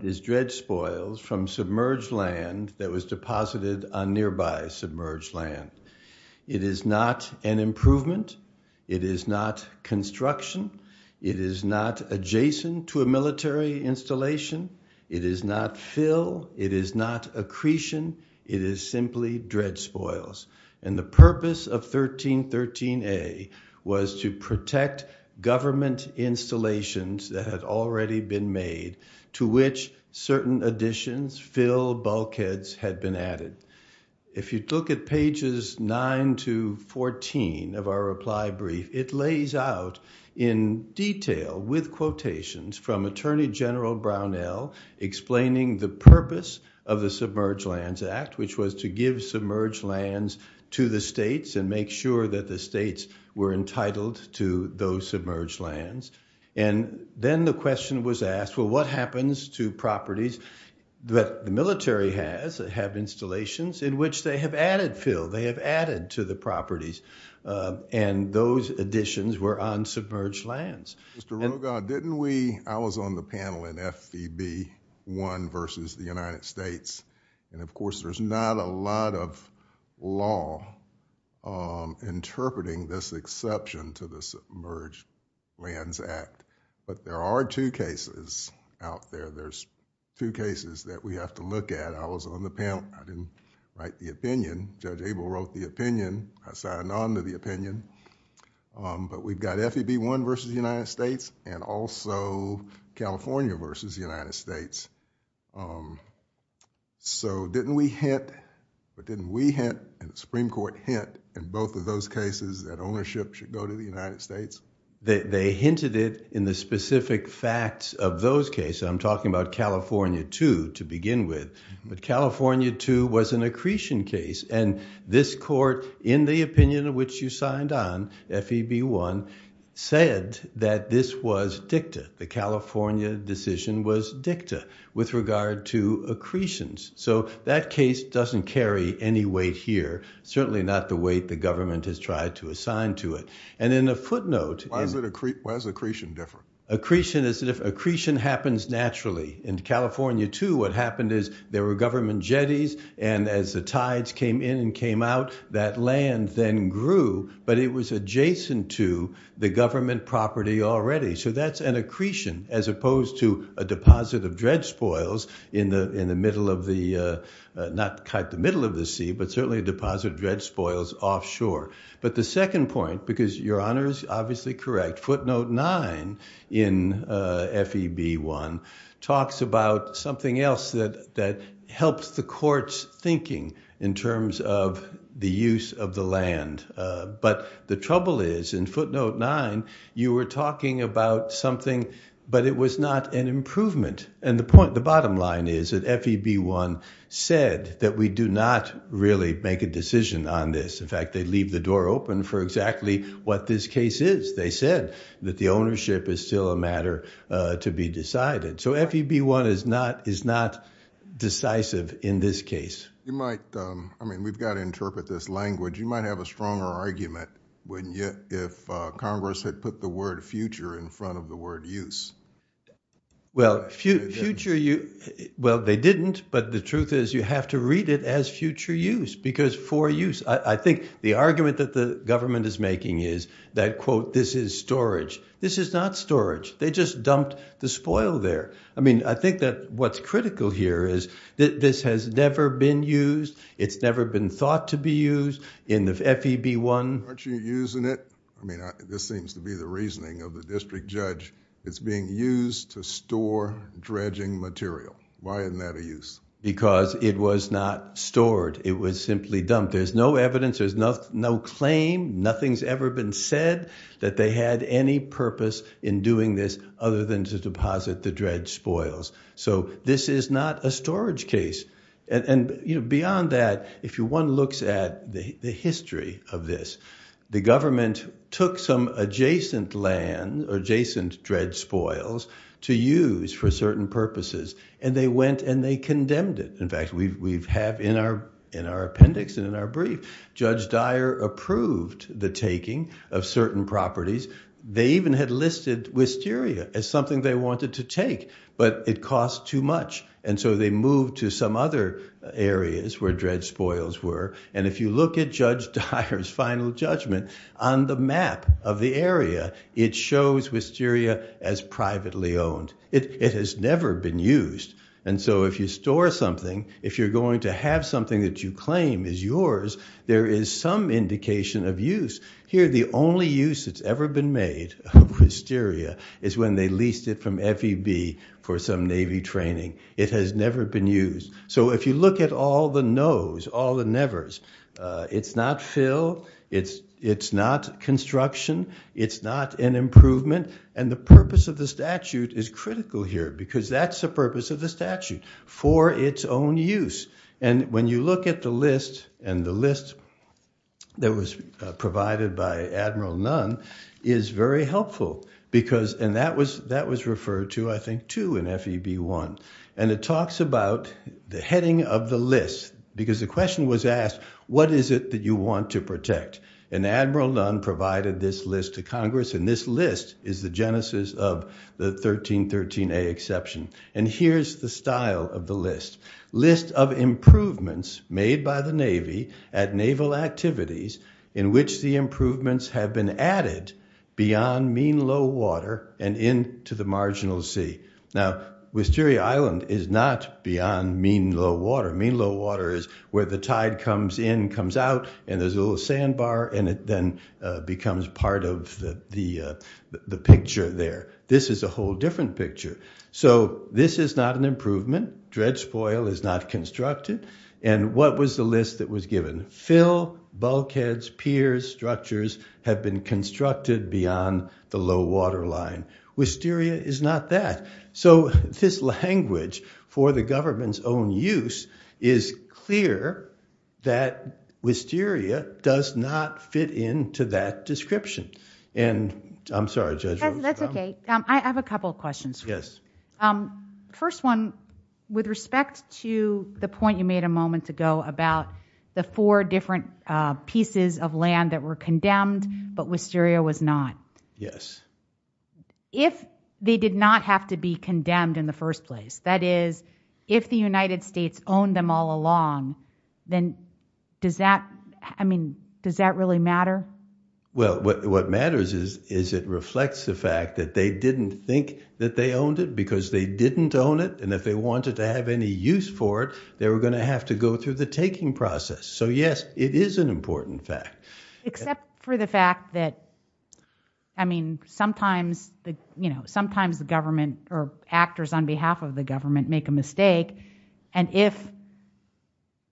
is dredge spoils from submerged land that was deposited on nearby submerged land. It is not an improvement, it is not construction, it is not adjacent to a military installation, it is not fill, it is not accretion, it is simply dredge spoils. And the purpose of 1313A was to protect government installations that had already been made to which certain additions, fill, bulkheads had been added. If you look at pages 9 to 14 of our reply brief, it lays out in detail with quotations from Attorney General Brownell explaining the purpose of the Submerged Lands Act, which was to give submerged lands to the states and make sure that the states were entitled to those submerged lands. And then the question was asked, well what happens to properties that the military has, that have installations in which they have added fill, they have added to the properties, and those additions were on submerged lands. Mr. Ruga, didn't we, I was on the panel in F.E.B. 1 versus the United States, and of course there's not a lot of law interpreting this exception to the Submerged Lands Act. But there are two cases out there, there's two cases that we have to look at. I was on the panel, I didn't write the opinion, Judge Abel wrote the opinion, I signed on to the opinion. But we've got F.E.B. 1 versus the United States, and also California versus the United States. So didn't we hint, but didn't we hint, and the Supreme Court hint in both of those cases that ownership should go to the United States? They hinted it in the specific facts of those cases, I'm talking about California 2 to begin with. But California 2 was an accretion case, and this court in the opinion of which you signed on, F.E.B. 1, said that this was dicta, the California decision was dicta. With regard to accretions. So that case doesn't carry any weight here, certainly not the weight the government has tried to assign to it. And in a footnote... Why is accretion different? Accretion happens naturally. In California 2, what happened is there were government jetties, and as the tides came in and came out, that land then grew, but it was adjacent to the government property already. So that's an accretion as opposed to a deposit of dread spoils in the middle of the... Not quite the middle of the sea, but certainly a deposit of dread spoils offshore. But the second point, because Your Honour is obviously correct, footnote 9 in F.E.B. 1 talks about something else that helps the court's thinking in terms of the use of the land. But the trouble is, in footnote 9, you were talking about something, but it was not an improvement. And the bottom line is that F.E.B. 1 said that we do not really make a decision on this. In fact, they leave the door open for exactly what this case is. They said that the ownership is still a matter to be decided. So F.E.B. 1 is not decisive in this case. We've got to interpret this language. You might have a stronger argument if Congress had put the word future in front of the word use. Well, future use... Well, they didn't, but the truth is you have to read it as future use, because for use... I think the argument that the government is making is that, quote, this is storage. This is not storage. They just dumped the spoil there. I mean, I think that what's critical here is that this has never been used. It's never been thought to be used in F.E.B. 1. Aren't you using it? I mean, this seems to be the reasoning of the district judge. It's being used to store dredging material. Why isn't that a use? Because it was not stored. It was simply dumped. There's no evidence, there's no claim, nothing's ever been said that they had any purpose in doing this other than to deposit the dredged spoils. So this is not a storage case. Beyond that, if one looks at the history of this, the government took some adjacent land, adjacent dredged spoils, to use for certain purposes, and they went and they condemned it. In fact, we have in our appendix and in our brief, Judge Dyer approved the taking of certain properties. They even had listed wisteria as something they wanted to take, but it cost too much, and so they moved to some other areas where dredged spoils were. And if you look at Judge Dyer's final judgment on the map of the area, it shows wisteria as privately owned. It has never been used. And so if you store something, if you're going to have something that you claim is yours, there is some indication of use. Here, the only use that's ever been made of wisteria is when they leased it from FEB for some Navy training. It has never been used. So if you look at all the nos, all the nevers, it's not fill, it's not construction, it's not an improvement, and the purpose of the statute is critical here because that's the purpose of the statute, for its own use. And when you look at the list, and the list that was provided by Admiral Nunn is very helpful because, and that was referred to, I think, 2 in FEB 1, and it talks about the heading of the list because the question was asked, what is it that you want to protect? And Admiral Nunn provided this list to Congress, and this list is the genesis of the 1313A exception. And here's the style of the list. List of improvements made by the Navy at naval activities in which the improvements have been added beyond mean low water and into the marginal sea. Now, Wisteria Island is not beyond mean low water. Mean low water is where the tide comes in, comes out, and there's a little sandbar, and it then becomes part of the picture there. This is a whole different picture. So this is not an improvement. Dread spoil is not constructed. And what was the list that was given? Fill, bulkheads, piers, structures have been constructed beyond the low water line. Wisteria is not that. So this language for the government's own use is clear that Wisteria does not fit into that description. And I'm sorry, Judge Rose. That's okay. I have a couple of questions. Yes. First one, with respect to the point you made a moment ago about the four different pieces of land that were condemned, but Wisteria was not. Yes. If they did not have to be condemned in the first place, that is, if the United States owned them all along, then does that really matter? Well, what matters is it reflects the fact that they didn't think that they owned it because they didn't own it, and if they wanted to have any use for it, they were going to have to go through the taking process. So yes, it is an important fact. Except for the fact that, I mean, sometimes the government, or actors on behalf of the government make a mistake, and if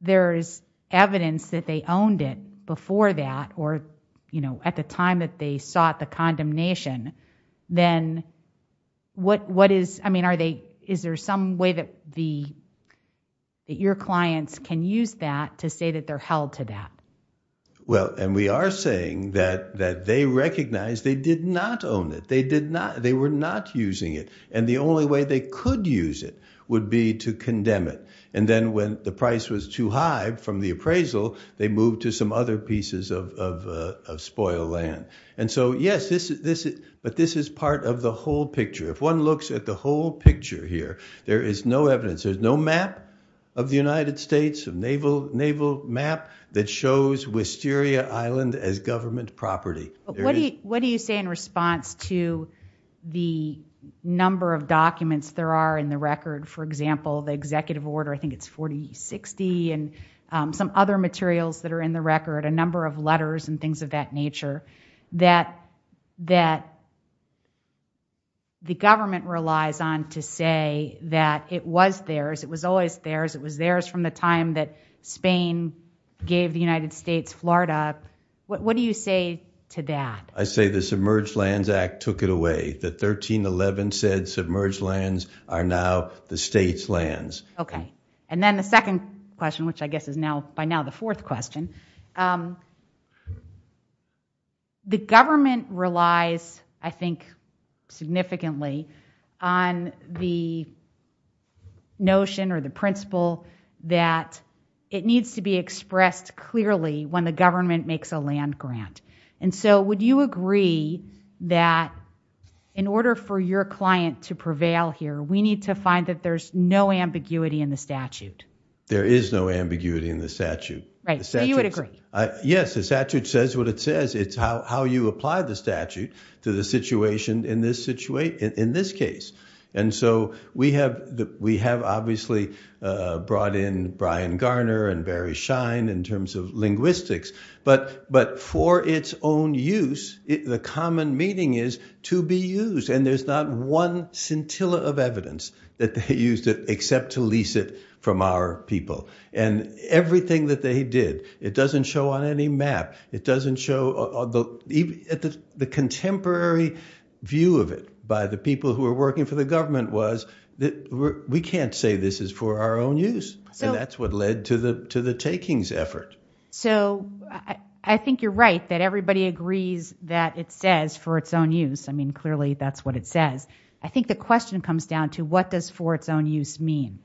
there is evidence that they owned it before that, or at the time that they sought the condemnation, then is there some way that your clients can use that to say that they're held to that? Well, and we are saying that they recognize they did not own it. They were not using it, and the only way they could use it would be to condemn it, and then when the price was too high from the appraisal, they moved to some other pieces of spoiled land. And so yes, but this is part of the whole picture. If one looks at the whole picture here, there is no evidence. There's no map of the United States, a naval map that shows Wisteria Island as government property. What do you say in response to the number of documents there are in the record? For example, the executive order, I think it's 4060, and some other materials that are in the record, a number of letters and things of that nature, that the government relies on to say that it was theirs, it was always theirs, it was theirs from the time that Spain gave the United States Florida. What do you say to that? I say the Submerged Lands Act took it away. The 1311 said submerged lands are now the state's lands. Okay, and then the second question, which I guess is now by now the fourth question. The government relies, I think, significantly on the notion or the principle that it needs to be expressed clearly when the government makes a land grant. And so would you agree that in order for your client to prevail here, we need to find that there's no ambiguity in the statute? There is no ambiguity in the statute. Right, so you would agree? Yes, the statute says what it says. It's how you apply the statute to the situation in this case. And so we have obviously brought in Brian Garner and Barry Schein in terms of linguistics, but for its own use, the common meaning is to be used. And there's not one scintilla of evidence that they used except to lease it from our people. And everything that they did, it doesn't show on any map. It doesn't show the contemporary view of it by the people who are working for the government was that we can't say this is for our own use. And that's what led to the takings effort. So I think you're right that everybody agrees that it says for its own use. I mean, clearly that's what it says. I think the question comes down to, what does for its own use mean?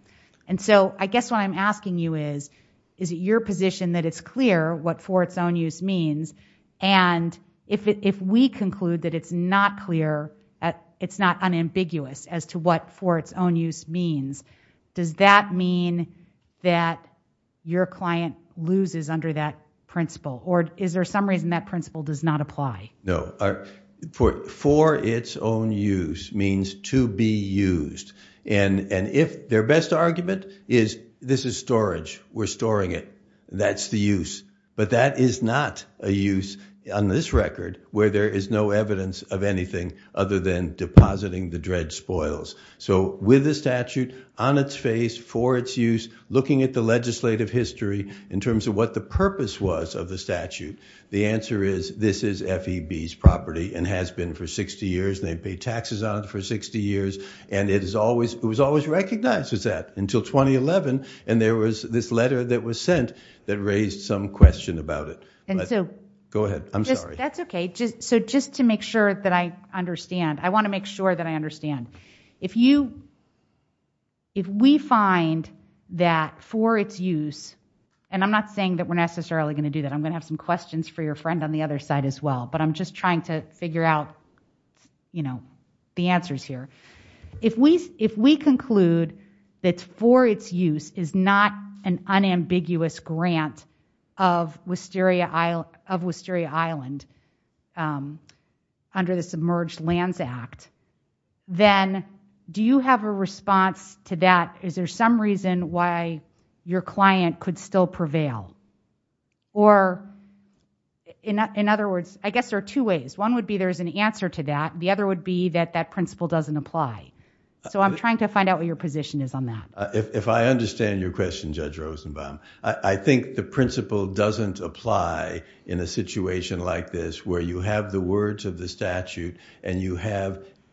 And so I guess what I'm asking you is, is it your position that it's clear what for its own use means? And if we conclude that it's not clear, it's not unambiguous as to what for its own use means, does that mean that your client loses under that principle? Or is there some reason that principle does not apply? No. For its own use means to be used. And their best argument is, this is storage. We're storing it. That's the use. But that is not a use on this record where there is no evidence of anything other than depositing the dredge spoils. So with the statute on its face for its use, looking at the legislative history in terms of what the purpose was of the statute, the answer is, this is FEB's property and has been for 60 years. And they've paid taxes on it for 60 years. And it was always recognized as that until 2011. And there was this letter that was sent that raised some question about it. Go ahead. I'm sorry. That's OK. So just to make sure that I understand, I want to make sure that I understand. If we find that for its use, and I'm not saying that we're necessarily going to do that. I'm going to have some questions for your friend on the other side as well. But I'm just trying to figure out the answers here. If we conclude that for its use is not an unambiguous grant of Wisteria Island under the Submerged Lands Act, then do you have a response to that? Is there some reason why your client could still prevail? Or in other words, I guess there are two ways. One would be there is an answer to that. The other would be that that principle doesn't apply. So I'm trying to find out what your position is on that. If I understand your question, Judge Rosenbaum, I think the principle doesn't apply in a situation like this where you have the words of the statute, and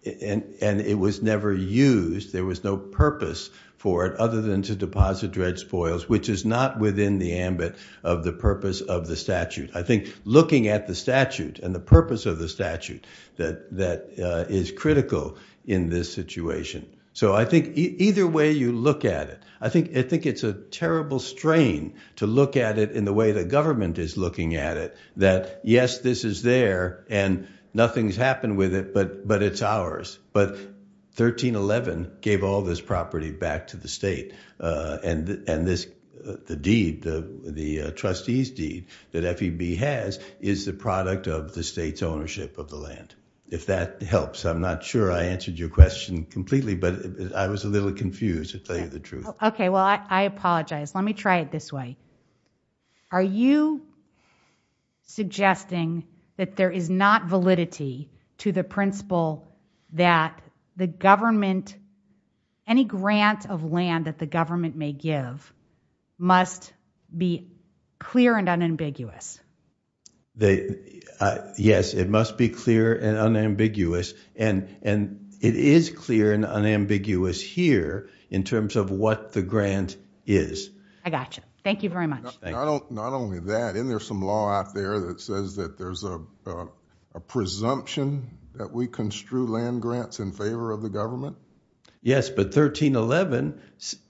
it was never used. There was no purpose for it other than to deposit dredge spoils, which is not within the ambit of the purpose of the statute. I think looking at the statute and the purpose of the statute that is critical in this situation. So I think either way you look at it, I think it's a terrible strain to look at it in the way the government is looking at it, that yes, this is there, and nothing's happened with it, but it's ours. But 1311 gave all this property back to the state. And the deed, the trustee's deed that FEB has is the product of the state's ownership of the land, if that helps. I'm not sure I answered your question completely, but I was a little confused, to tell you the truth. OK, well, I apologize. Let me try it this way. Are you suggesting that there is not validity to the principle that any grant of land that the government may give must be clear and unambiguous? Yes, it must be clear and unambiguous. And it is clear and unambiguous here in terms of what the grant is. I got you. Thank you very much. Not only that, isn't there some law out there that says that there's a presumption that we construe land grants in favor of the government? Yes, but 1311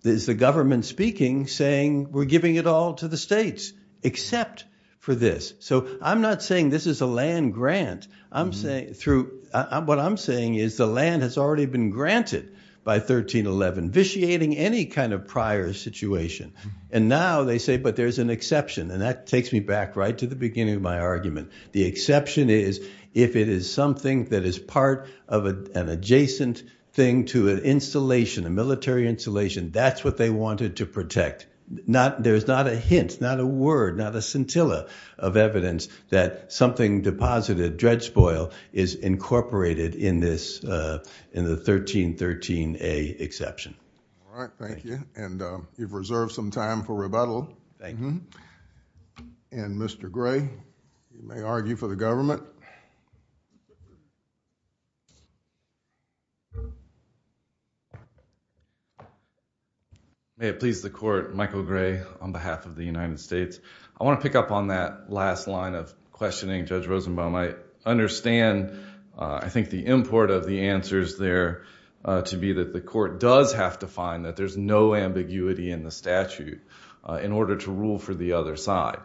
is the government speaking, saying we're giving it all to the states except for this. So I'm not saying this is a land grant. What I'm saying is the land has already been granted by 1311, vitiating any kind of prior situation. And now they say, but there's an exception. And that takes me back right to the beginning of my argument. The exception is if it is something that is part of an adjacent thing to an installation, a military installation, that's what they wanted to protect. There is not a hint, not a word, not a scintilla of evidence that something deposited, dredge spoil, is incorporated in the 1313A exception. All right, thank you. And you've reserved some time for rebuttal. Thank you. And Mr. Gray, you may argue for the government. May it please the court, Michael Gray on behalf of the United States. I want to pick up on that last line of questioning Judge Rosenbaum. I understand, I think, the import of the answers there to be that the court does have to find that there's no ambiguity in the statute in order to rule for the other side.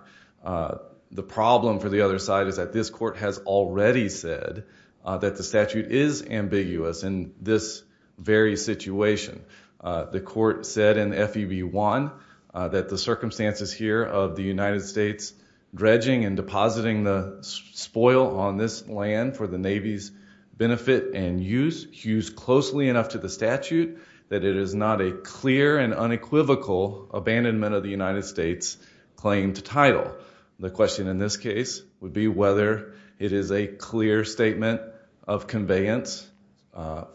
The problem for the other side is that this court has already said that the statute is ambiguous in this very situation. The court said in FEB1 that the circumstances here of the United States dredging and depositing the spoil on this land for the Navy's benefit and use hews closely enough to the statute that it is not a clear and unequivocal abandonment of the United States claim to title. The question in this case would be whether it is a clear statement of conveyance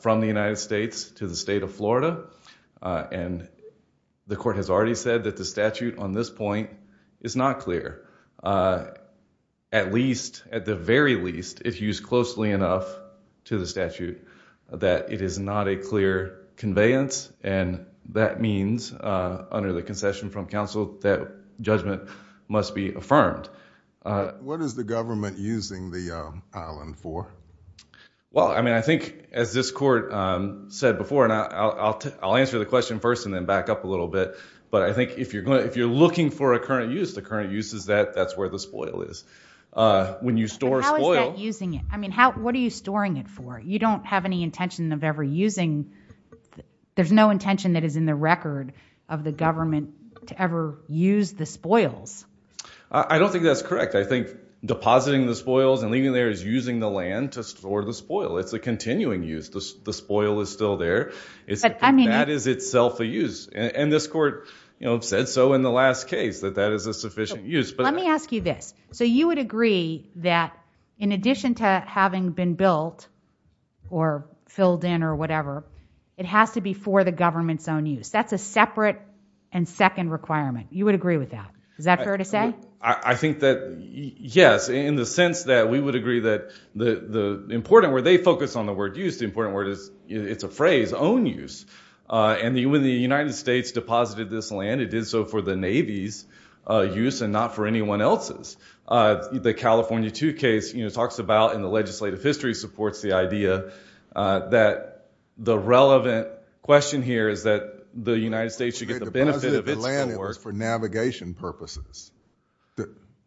from the United States to the state of Florida. And the court has already said that the statute on this point is not clear. At least, at the very least, it's used closely enough to the statute that it is not a clear conveyance. And that means, under the concession from counsel, that judgment must be affirmed. What is the government using the island for? Well, I mean, I think, as this court said before, and I'll answer the question first and then back up a little bit, but I think if you're looking for a current use, the current use is that that's where the spoil is. When you store spoil... But how is that using it? I mean, what are you storing it for? You don't have any intention of ever using... There's no intention that is in the record of the government to ever use the spoils. I don't think that's correct. I think depositing the spoils and leaving there is using the land to store the spoil. It's a continuing use. The spoil is still there. That is itself a use. And this court said so in the last case, that that is a sufficient use. Let me ask you this. So you would agree that in addition to having been built or filled in or whatever, it has to be for the government's own use. That's a separate and second requirement. You would agree with that. Is that fair to say? I think that, yes, in the sense that we would agree that the important word... They focus on the word use. The important word is... It's a phrase, own use. And when the United States deposited this land, it did so for the Navy's use and not for anyone else's. The California II case talks about, and the legislative history supports the idea, that the relevant question here is that the United States should get the benefit of its... They deposited the land for navigation purposes.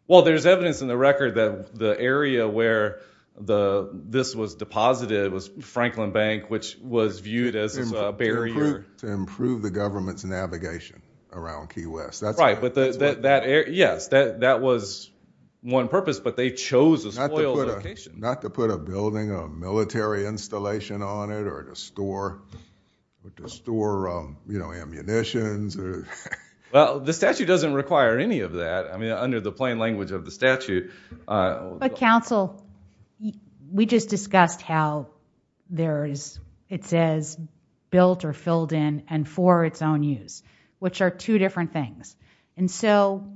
Well, there's evidence in the record that the area where this was deposited was Franklin Bank, which was viewed as a barrier... Right, but that area... Yes, that was one purpose, but they chose a soil location. Not to put a building, a military installation on it or to store ammunitions. Well, the statute doesn't require any of that. I mean, under the plain language of the statute... But, counsel, we just discussed how there is... It says built or filled in and for its own use, which are two different things. And so,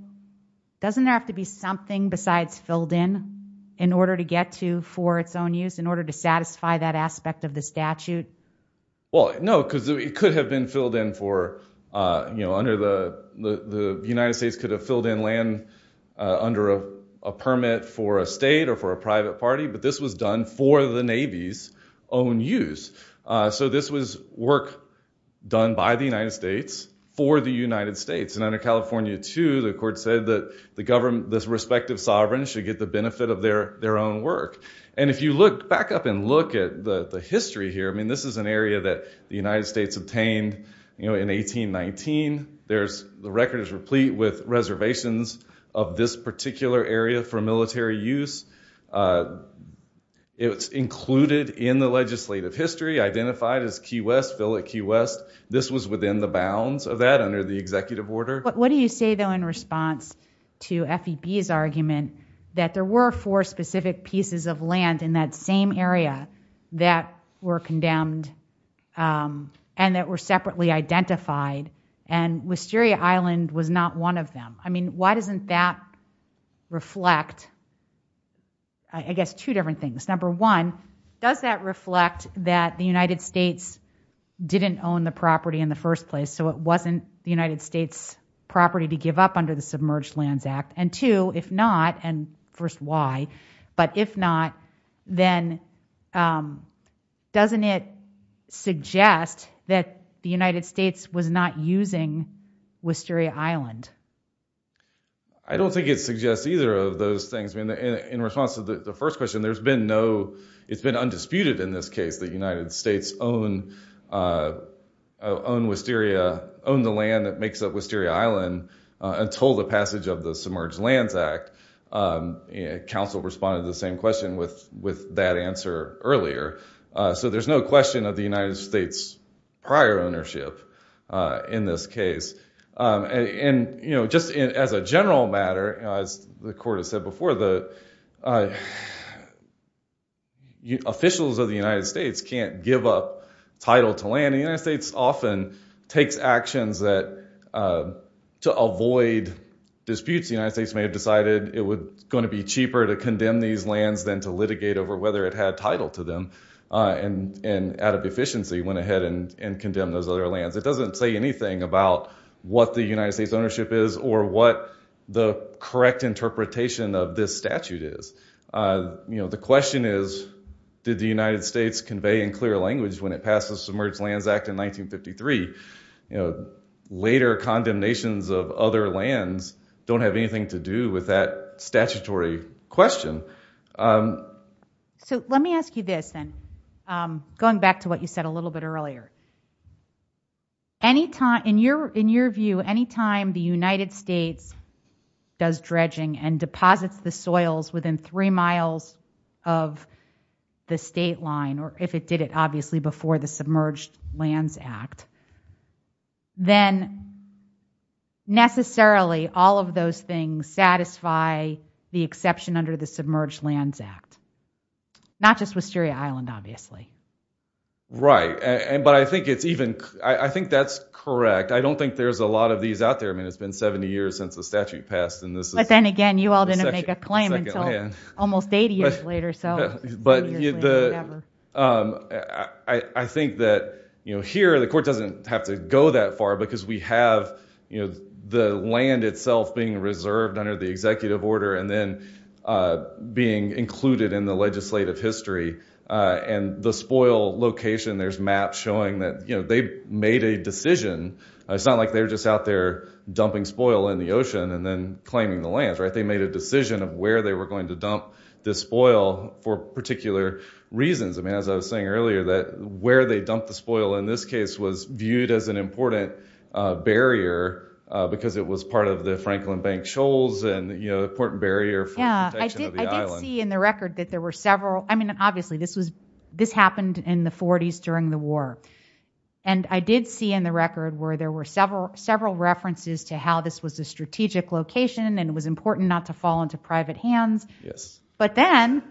doesn't there have to be something besides filled in in order to get to for its own use, in order to satisfy that aspect of the statute? Well, no, because it could have been filled in for... Under the... The United States could have filled in land under a permit for a state or for a private party, but this was done for the Navy's own use. So, this was work done by the United States for the United States. And under California II, the court said that this respective sovereign should get the benefit of their own work. And if you look back up and look at the history here, I mean, this is an area that the United States obtained in 1819. The record is replete with reservations of this particular area for military use. It's included in the legislative history, identified as Key West, fill at Key West. This was within the bounds of that under the executive order. What do you say, though, in response to FEB's argument that there were four specific pieces of land in that same area that were condemned and that were separately identified and Wisteria Island was not one of them? I mean, why doesn't that reflect, I guess, two different things. Number one, does that reflect that the United States didn't own the property in the first place, so it wasn't the United States' property to give up under the Submerged Lands Act? And two, if not, and first, why, but if not, then doesn't it suggest that the United States was not using Wisteria Island? I don't think it suggests either of those things. I mean, in response to the first question, there's been no, it's been undisputed in this case that the United States owned Wisteria, owned the land that makes up Wisteria Island until the passage of the Submerged Lands Act. Council responded to the same question with that answer earlier. So there's no question of the United States' prior ownership in this case. And just as a general matter, as the court has said before, the officials of the United States can't give up title to land. The United States often takes actions to avoid disputes. The United States may have decided it was gonna be cheaper to condemn these lands than to litigate over whether it had title to them. And out of deficiency, went ahead and condemned those other lands. It doesn't say anything about what the United States' ownership is or what the correct interpretation of this statute is. The question is, did the United States convey in clear language when it passed the Submerged Lands Act in 1953? Later condemnations of other lands don't have anything to do with that statutory question. So let me ask you this then, going back to what you said a little bit earlier. In your view, any time the United States does dredging and deposits the soils within three miles of the state line, or if it did it obviously before the Submerged Lands Act, then necessarily all of those things satisfy the exception under the Submerged Lands Act? Not just Wisteria Island, obviously. Right, but I think that's correct. I don't think there's a lot of these out there. I mean, it's been 70 years since the statute passed. But then again, you all didn't make a claim until almost 80 years later. I think that here the court doesn't have to go that far because we have the land itself being reserved under the executive order and then being included in the legislative history. And the spoil location, there's maps showing that they made a decision. It's not like they were just out there dumping spoil in the ocean and then claiming the lands. They made a decision of where they were going to dump the spoil for particular reasons. I mean, as I was saying earlier, where they dumped the spoil in this case was viewed as an important barrier because it was part of the Franklin Bank shoals and an important barrier for the protection of the island. Yeah, I did see in the record that there were several, I mean, obviously, this happened in the 40s during the war. And I did see in the record where there were several references to how this was a strategic location and it was important not to fall into private hands. But then,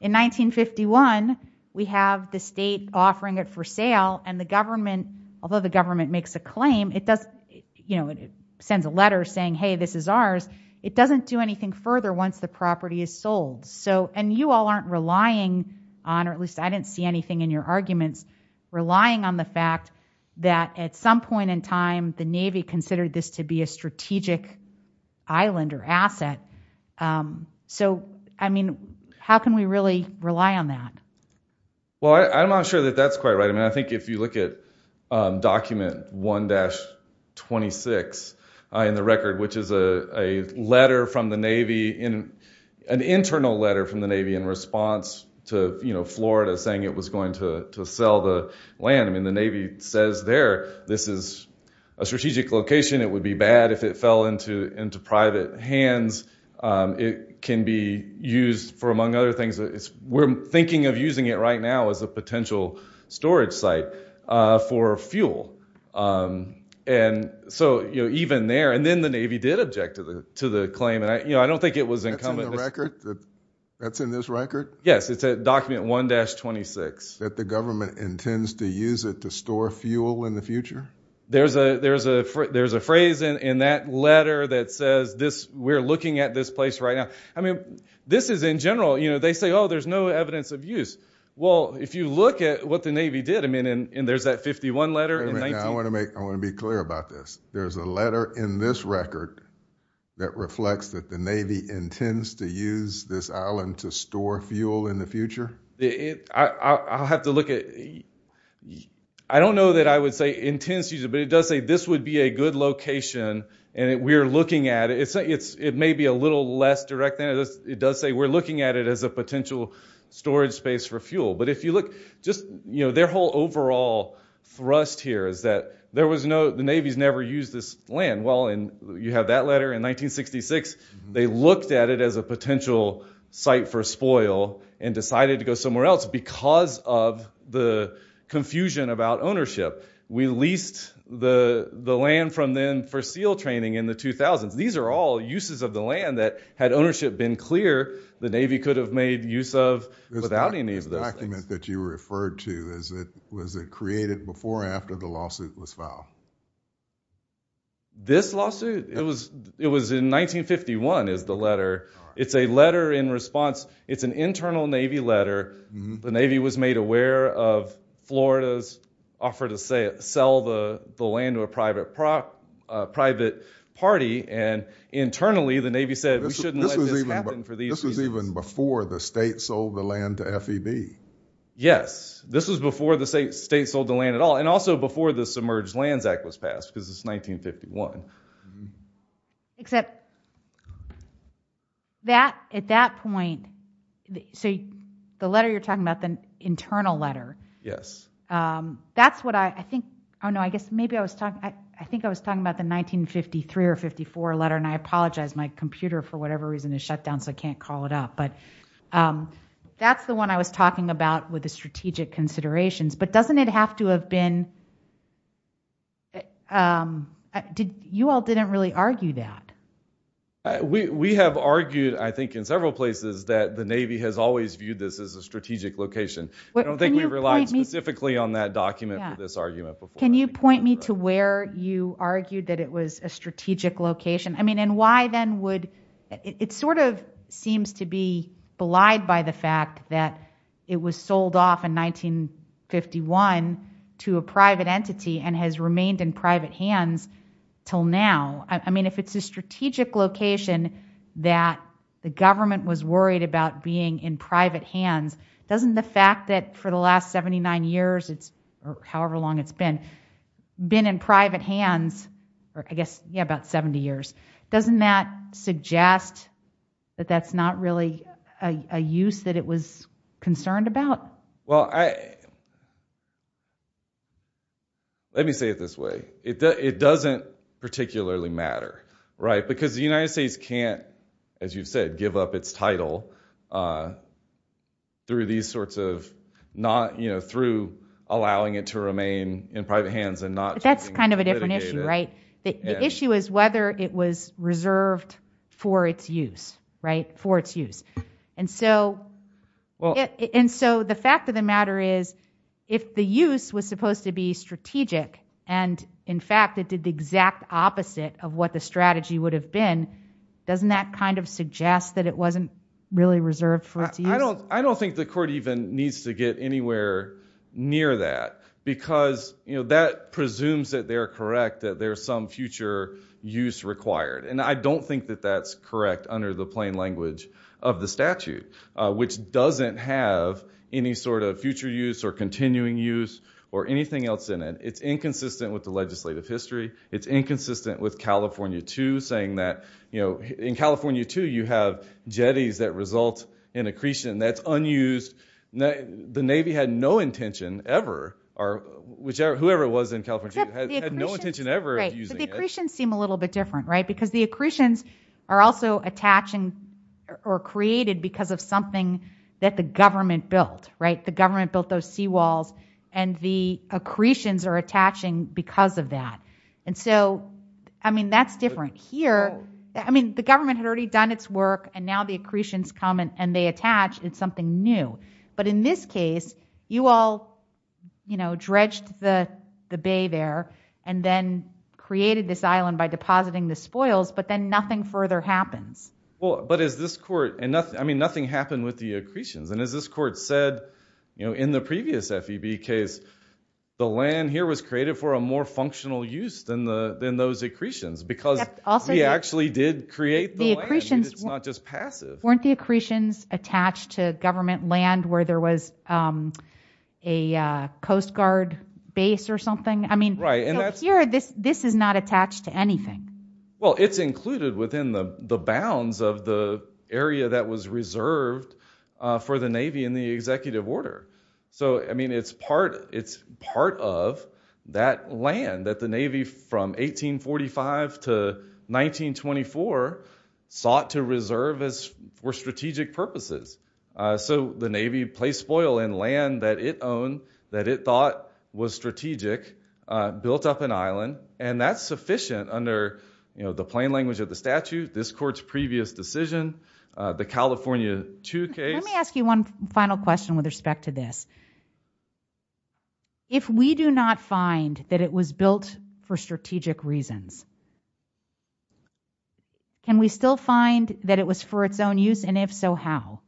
in 1951, we have the state offering it for sale and the government, although the government makes a claim, it sends a letter saying, hey, this is ours, it doesn't do anything further once the property is sold. And you all aren't relying on, or at least I didn't see anything in your arguments, relying on the fact that at some point in time the Navy considered this to be a strategic island or asset. So, I mean, how can we really rely on that? Well, I'm not sure that that's quite right. I mean, I think if you look at document 1-26 in the record, which is a letter from the Navy, an internal letter from the Navy in response to Florida saying it was going to sell the land. I mean, the Navy says there this is a strategic location, it would be bad if it fell into private hands. It can be used for, among other things, we're thinking of using it right now as a potential storage site for fuel. And so even there, and then the Navy did object to the claim, and I don't think it was incumbent... That's in the record? That's in this record? Yes, it's document 1-26. That the government intends to use it to store fuel in the future? There's a phrase in that letter that says we're looking at this place right now. I mean, this is in general, you know, they say, oh, there's no evidence of use. Well, if you look at what the Navy did, I mean, and there's that 51 letter. I want to be clear about this. There's a letter in this record that reflects that the Navy intends to use this island to store fuel in the future? I'll have to look at... I don't know that I would say intends to use it, but it does say this would be a good location, and we're looking at it. It may be a little less direct than it is. It does say we're looking at it as a potential storage space for fuel. But if you look, just, you know, their whole overall thrust here is that there was no... the Navy's never used this land. Well, and you have that letter in 1966. They looked at it as a potential site for spoil and decided to go somewhere else because of the confusion about ownership. We leased the land from then for SEAL training in the 2000s. These are all uses of the land that, had ownership been clear, the Navy could have made use of without any of those things. This document that you referred to, was it created before or after the lawsuit was filed? This lawsuit? It was in 1951, is the letter. It's a letter in response. It's an internal Navy letter. The Navy was made aware of Florida's offer to sell the land to a private party, and internally the Navy said we shouldn't let this happen for these reasons. This was even before the state sold the land to FEB. Yes, this was before the state sold the land at all and also before the Submerged Lands Act was passed, because it's 1951. Except, that, at that point, so the letter you're talking about, the internal letter. Yes. That's what I think, I don't know, I guess maybe I was talking, I think I was talking about the 1953 or 54 letter and I apologize, my computer, for whatever reason, is shut down so I can't call it up. That's the one I was talking about with the strategic considerations, but doesn't it have to have been, you all didn't really argue that. We have argued, I think in several places, that the Navy has always viewed this as a strategic location. I don't think we relied specifically on that document for this argument before. Can you point me to where you argued that it was a strategic location? I mean, and why then would, it sort of seems to be belied by the fact that it was sold off in 1951 to a private entity and has remained in private hands till now. I mean, if it's a strategic location that the government was worried about being in private hands, doesn't the fact that for the last 79 years, or however long it's been, been in private hands, I guess, yeah, about 70 years, doesn't that suggest that that's not really a use that it was concerned about? Well, let me say it this way. It doesn't particularly matter, right? Because the United States can't, as you've said, give up its title through these sorts of, through allowing it to remain in private hands and not choosing to litigate it. But that's kind of a different issue, right? The issue is whether it was reserved for its use, right? For its use. And so the fact of the matter is if the use was supposed to be strategic and, in fact, it did the exact opposite of what the strategy would have been, doesn't that kind of suggest that it wasn't really reserved for its use? I don't think the court even needs to get anywhere near that because that presumes that they're correct, that there's some future use required. And I don't think that that's correct under the plain language of the statute, which doesn't have any sort of future use or continuing use or anything else in it. It's inconsistent with the legislative history. It's inconsistent with California II, saying that in California II, you have jetties that result in accretion that's unused. The Navy had no intention ever, or whoever it was in California II, had no intention ever of using it. But the accretions seem a little bit different, right? Because the accretions are also attaching or created because of something that the government built, right? The government built those seawalls and the accretions are attaching because of that. And so, I mean, that's different here. I mean, the government had already done its work and now the accretions come and they attach. It's something new. But in this case, you all dredged the bay there and then created this island by depositing the spoils, but then nothing further happens. Well, but as this court... I mean, nothing happened with the accretions. And as this court said in the previous FEB case, the land here was created for a more functional use than those accretions because he actually did create the land. It's not just passive. Weren't the accretions attached to government land where there was a Coast Guard base or something? I mean, here, this is not attached to anything. Well, it's included within the bounds of the area that was reserved for the Navy in the executive order. So, I mean, it's part of that land that the Navy from 1845 to 1924 sought to reserve for strategic purposes. So the Navy placed spoil in land that it owned, that it thought was strategic, built up an island, and that's sufficient under the plain language of the statute, this court's previous decision, the California 2 case. Let me ask you one final question with respect to this. If we do not find that it was built for strategic reasons, can we still find that it was for its own use, and if so, how?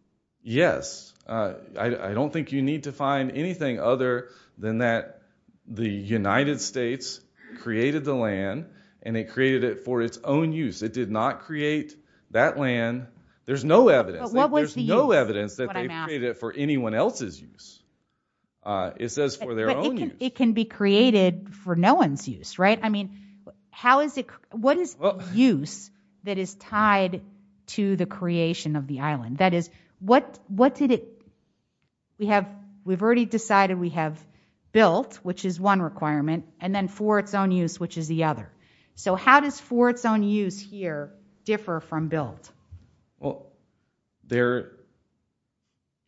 Yes. I don't think you need to find anything other than that the United States created the land and it created it for its own use. It did not create that land. There's no evidence. There's no evidence that they created it for anyone else's use. It says for their own use. But it can be created for no one's use, right? I mean, how is it? What is use that is tied to the creation of the island? That is, what did it? We have already decided we have built, which is one requirement, and then for its own use, which is the other. So how does for its own use here differ from built? Well, they're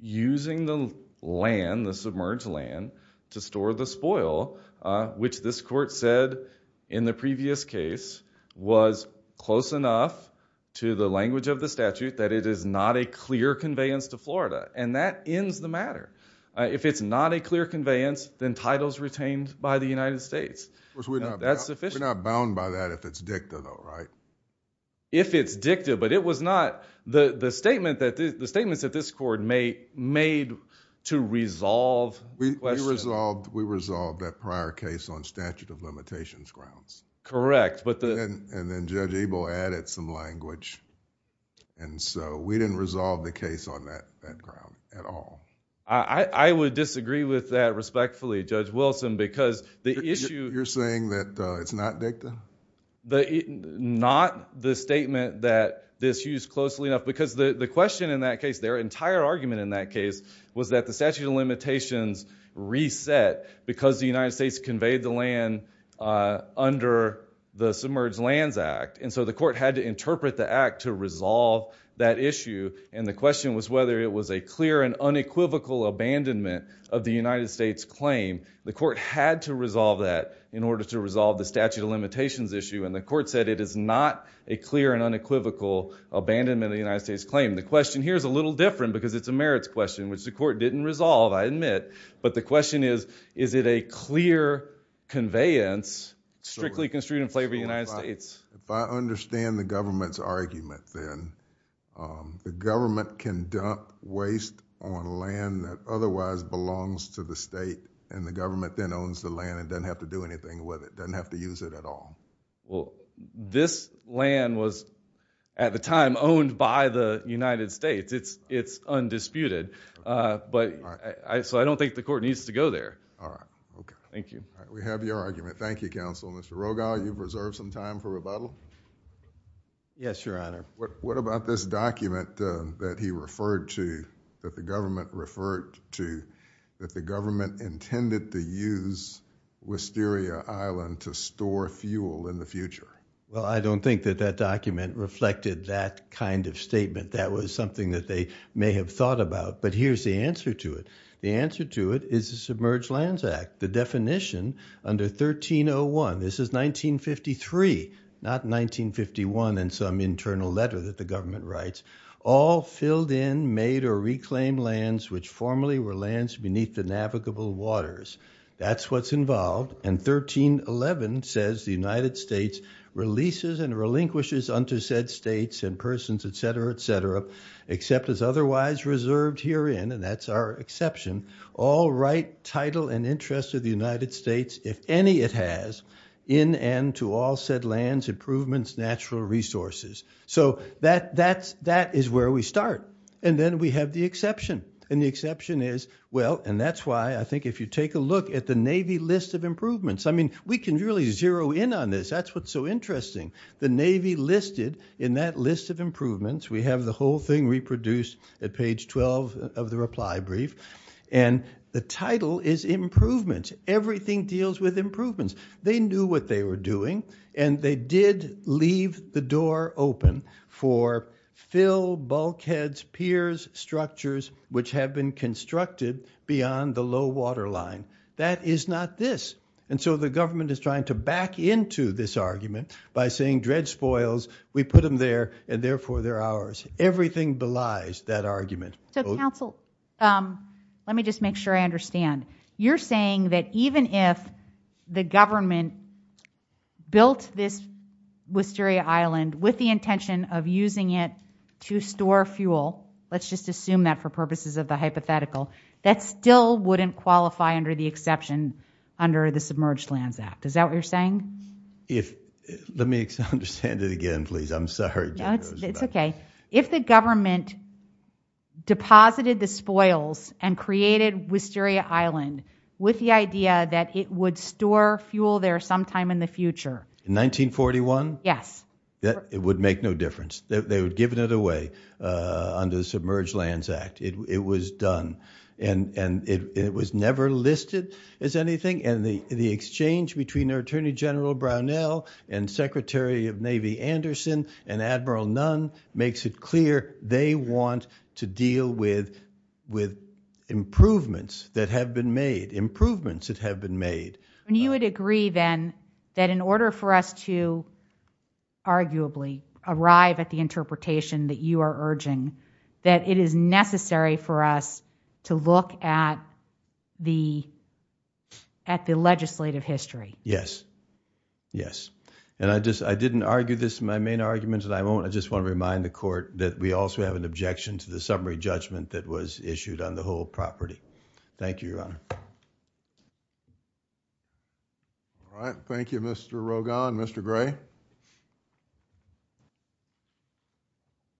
using the land, the submerged land, to store the spoil, which this court said in the previous case was close enough to the language of the statute that it is not a clear conveyance to Florida, and that ends the matter. If it's not a clear conveyance, then title's retained by the United States. We're not bound by that if it's dicta, though, right? If it's dicta, but it was not... The statements that this court made to resolve... We resolved that prior case on statute of limitations grounds. Correct, but the... And then Judge Ebel added some language, and so we didn't resolve the case on that ground at all. I would disagree with that respectfully, Judge Wilson, because the issue... You're saying that it's not dicta? Not the statement that this used closely enough, because the question in that case, their entire argument in that case, was that the statute of limitations reset because the United States conveyed the land under the Submerged Lands Act, and so the court had to interpret the act to resolve that issue, and the question was whether it was a clear and unequivocal abandonment of the United States' claim. The court had to resolve that in order to resolve the statute of limitations issue, and the court said it is not a clear and unequivocal abandonment of the United States' claim. The question here is a little different, because it's a merits question, which the court didn't resolve, I admit, but the question is, is it a clear conveyance, strictly construed in favor of the United States? If I understand the government's argument, then, the government can dump waste on land that otherwise belongs to the state, and the government then owns the land and doesn't have to do anything with it, doesn't have to use it at all. Well, this land was, at the time, owned by the United States. It's undisputed, so I don't think the court needs to go there. All right, okay. Thank you. All right, we have your argument. Thank you, counsel. Mr. Rogall, you've reserved some time for rebuttal? Yes, Your Honor. What about this document that he referred to, that the government referred to, that the government intended to use Wisteria Island to store fuel in the future? Well, I don't think that that document reflected that kind of statement. That was something that they may have thought about, but here's the answer to it. The answer to it is the Submerged Lands Act. The definition under 1301, this is 1953, not 1951 in some internal letter that the government writes, all filled in, made or reclaimed lands which formerly were lands beneath the navigable waters. That's what's involved, and 1311 says the United States releases and relinquishes unto said states and persons, et cetera, et cetera, except as otherwise reserved herein, and that's our exception, all right, title, and interest of the United States, if any it has, in and to all said lands, improvements, natural resources. So that is where we start, and then we have the exception, and the exception is, well, and that's why I think if you take a look at the Navy list of improvements, I mean, we can really zero in on this. That's what's so interesting. The Navy listed in that list of improvements, we have the whole thing reproduced at page 12 of the reply brief, and the title is improvements. Everything deals with improvements. They knew what they were doing, and they did leave the door open for fill bulkheads, piers, structures, which have been constructed beyond the low water line. That is not this, and so the government is trying to back into this argument by saying dread spoils, we put them there, and therefore they're ours. Everything belies that argument. So counsel, let me just make sure I understand. You're saying that even if the government built this Wisteria Island with the intention of using it to store fuel, let's just assume that for purposes of the hypothetical, that still wouldn't qualify under the exception under the Submerged Lands Act. Is that what you're saying? Let me understand it again, please. I'm sorry. It's okay. If the government deposited the spoils and created Wisteria Island with the idea that it would store fuel there sometime in the future. In 1941? Yes. It would make no difference. They would have given it away under the Submerged Lands Act. It was done, and it was never listed as anything, and the exchange between Attorney General Brownell and Secretary of Navy Anderson and Admiral Nunn makes it clear they want to deal with improvements that have been made, improvements that have been made. You would agree, then, that in order for us to arguably arrive at the interpretation that you are urging, that it is necessary for us to look at the legislative history. Yes. Yes. And I didn't argue this in my main argument, and I won't. I just want to remind the Court that we also have an objection to the summary judgment that was issued on the whole property. Thank you, Your Honor. All right. Thank you, Mr. Rogan. Mr. Gray.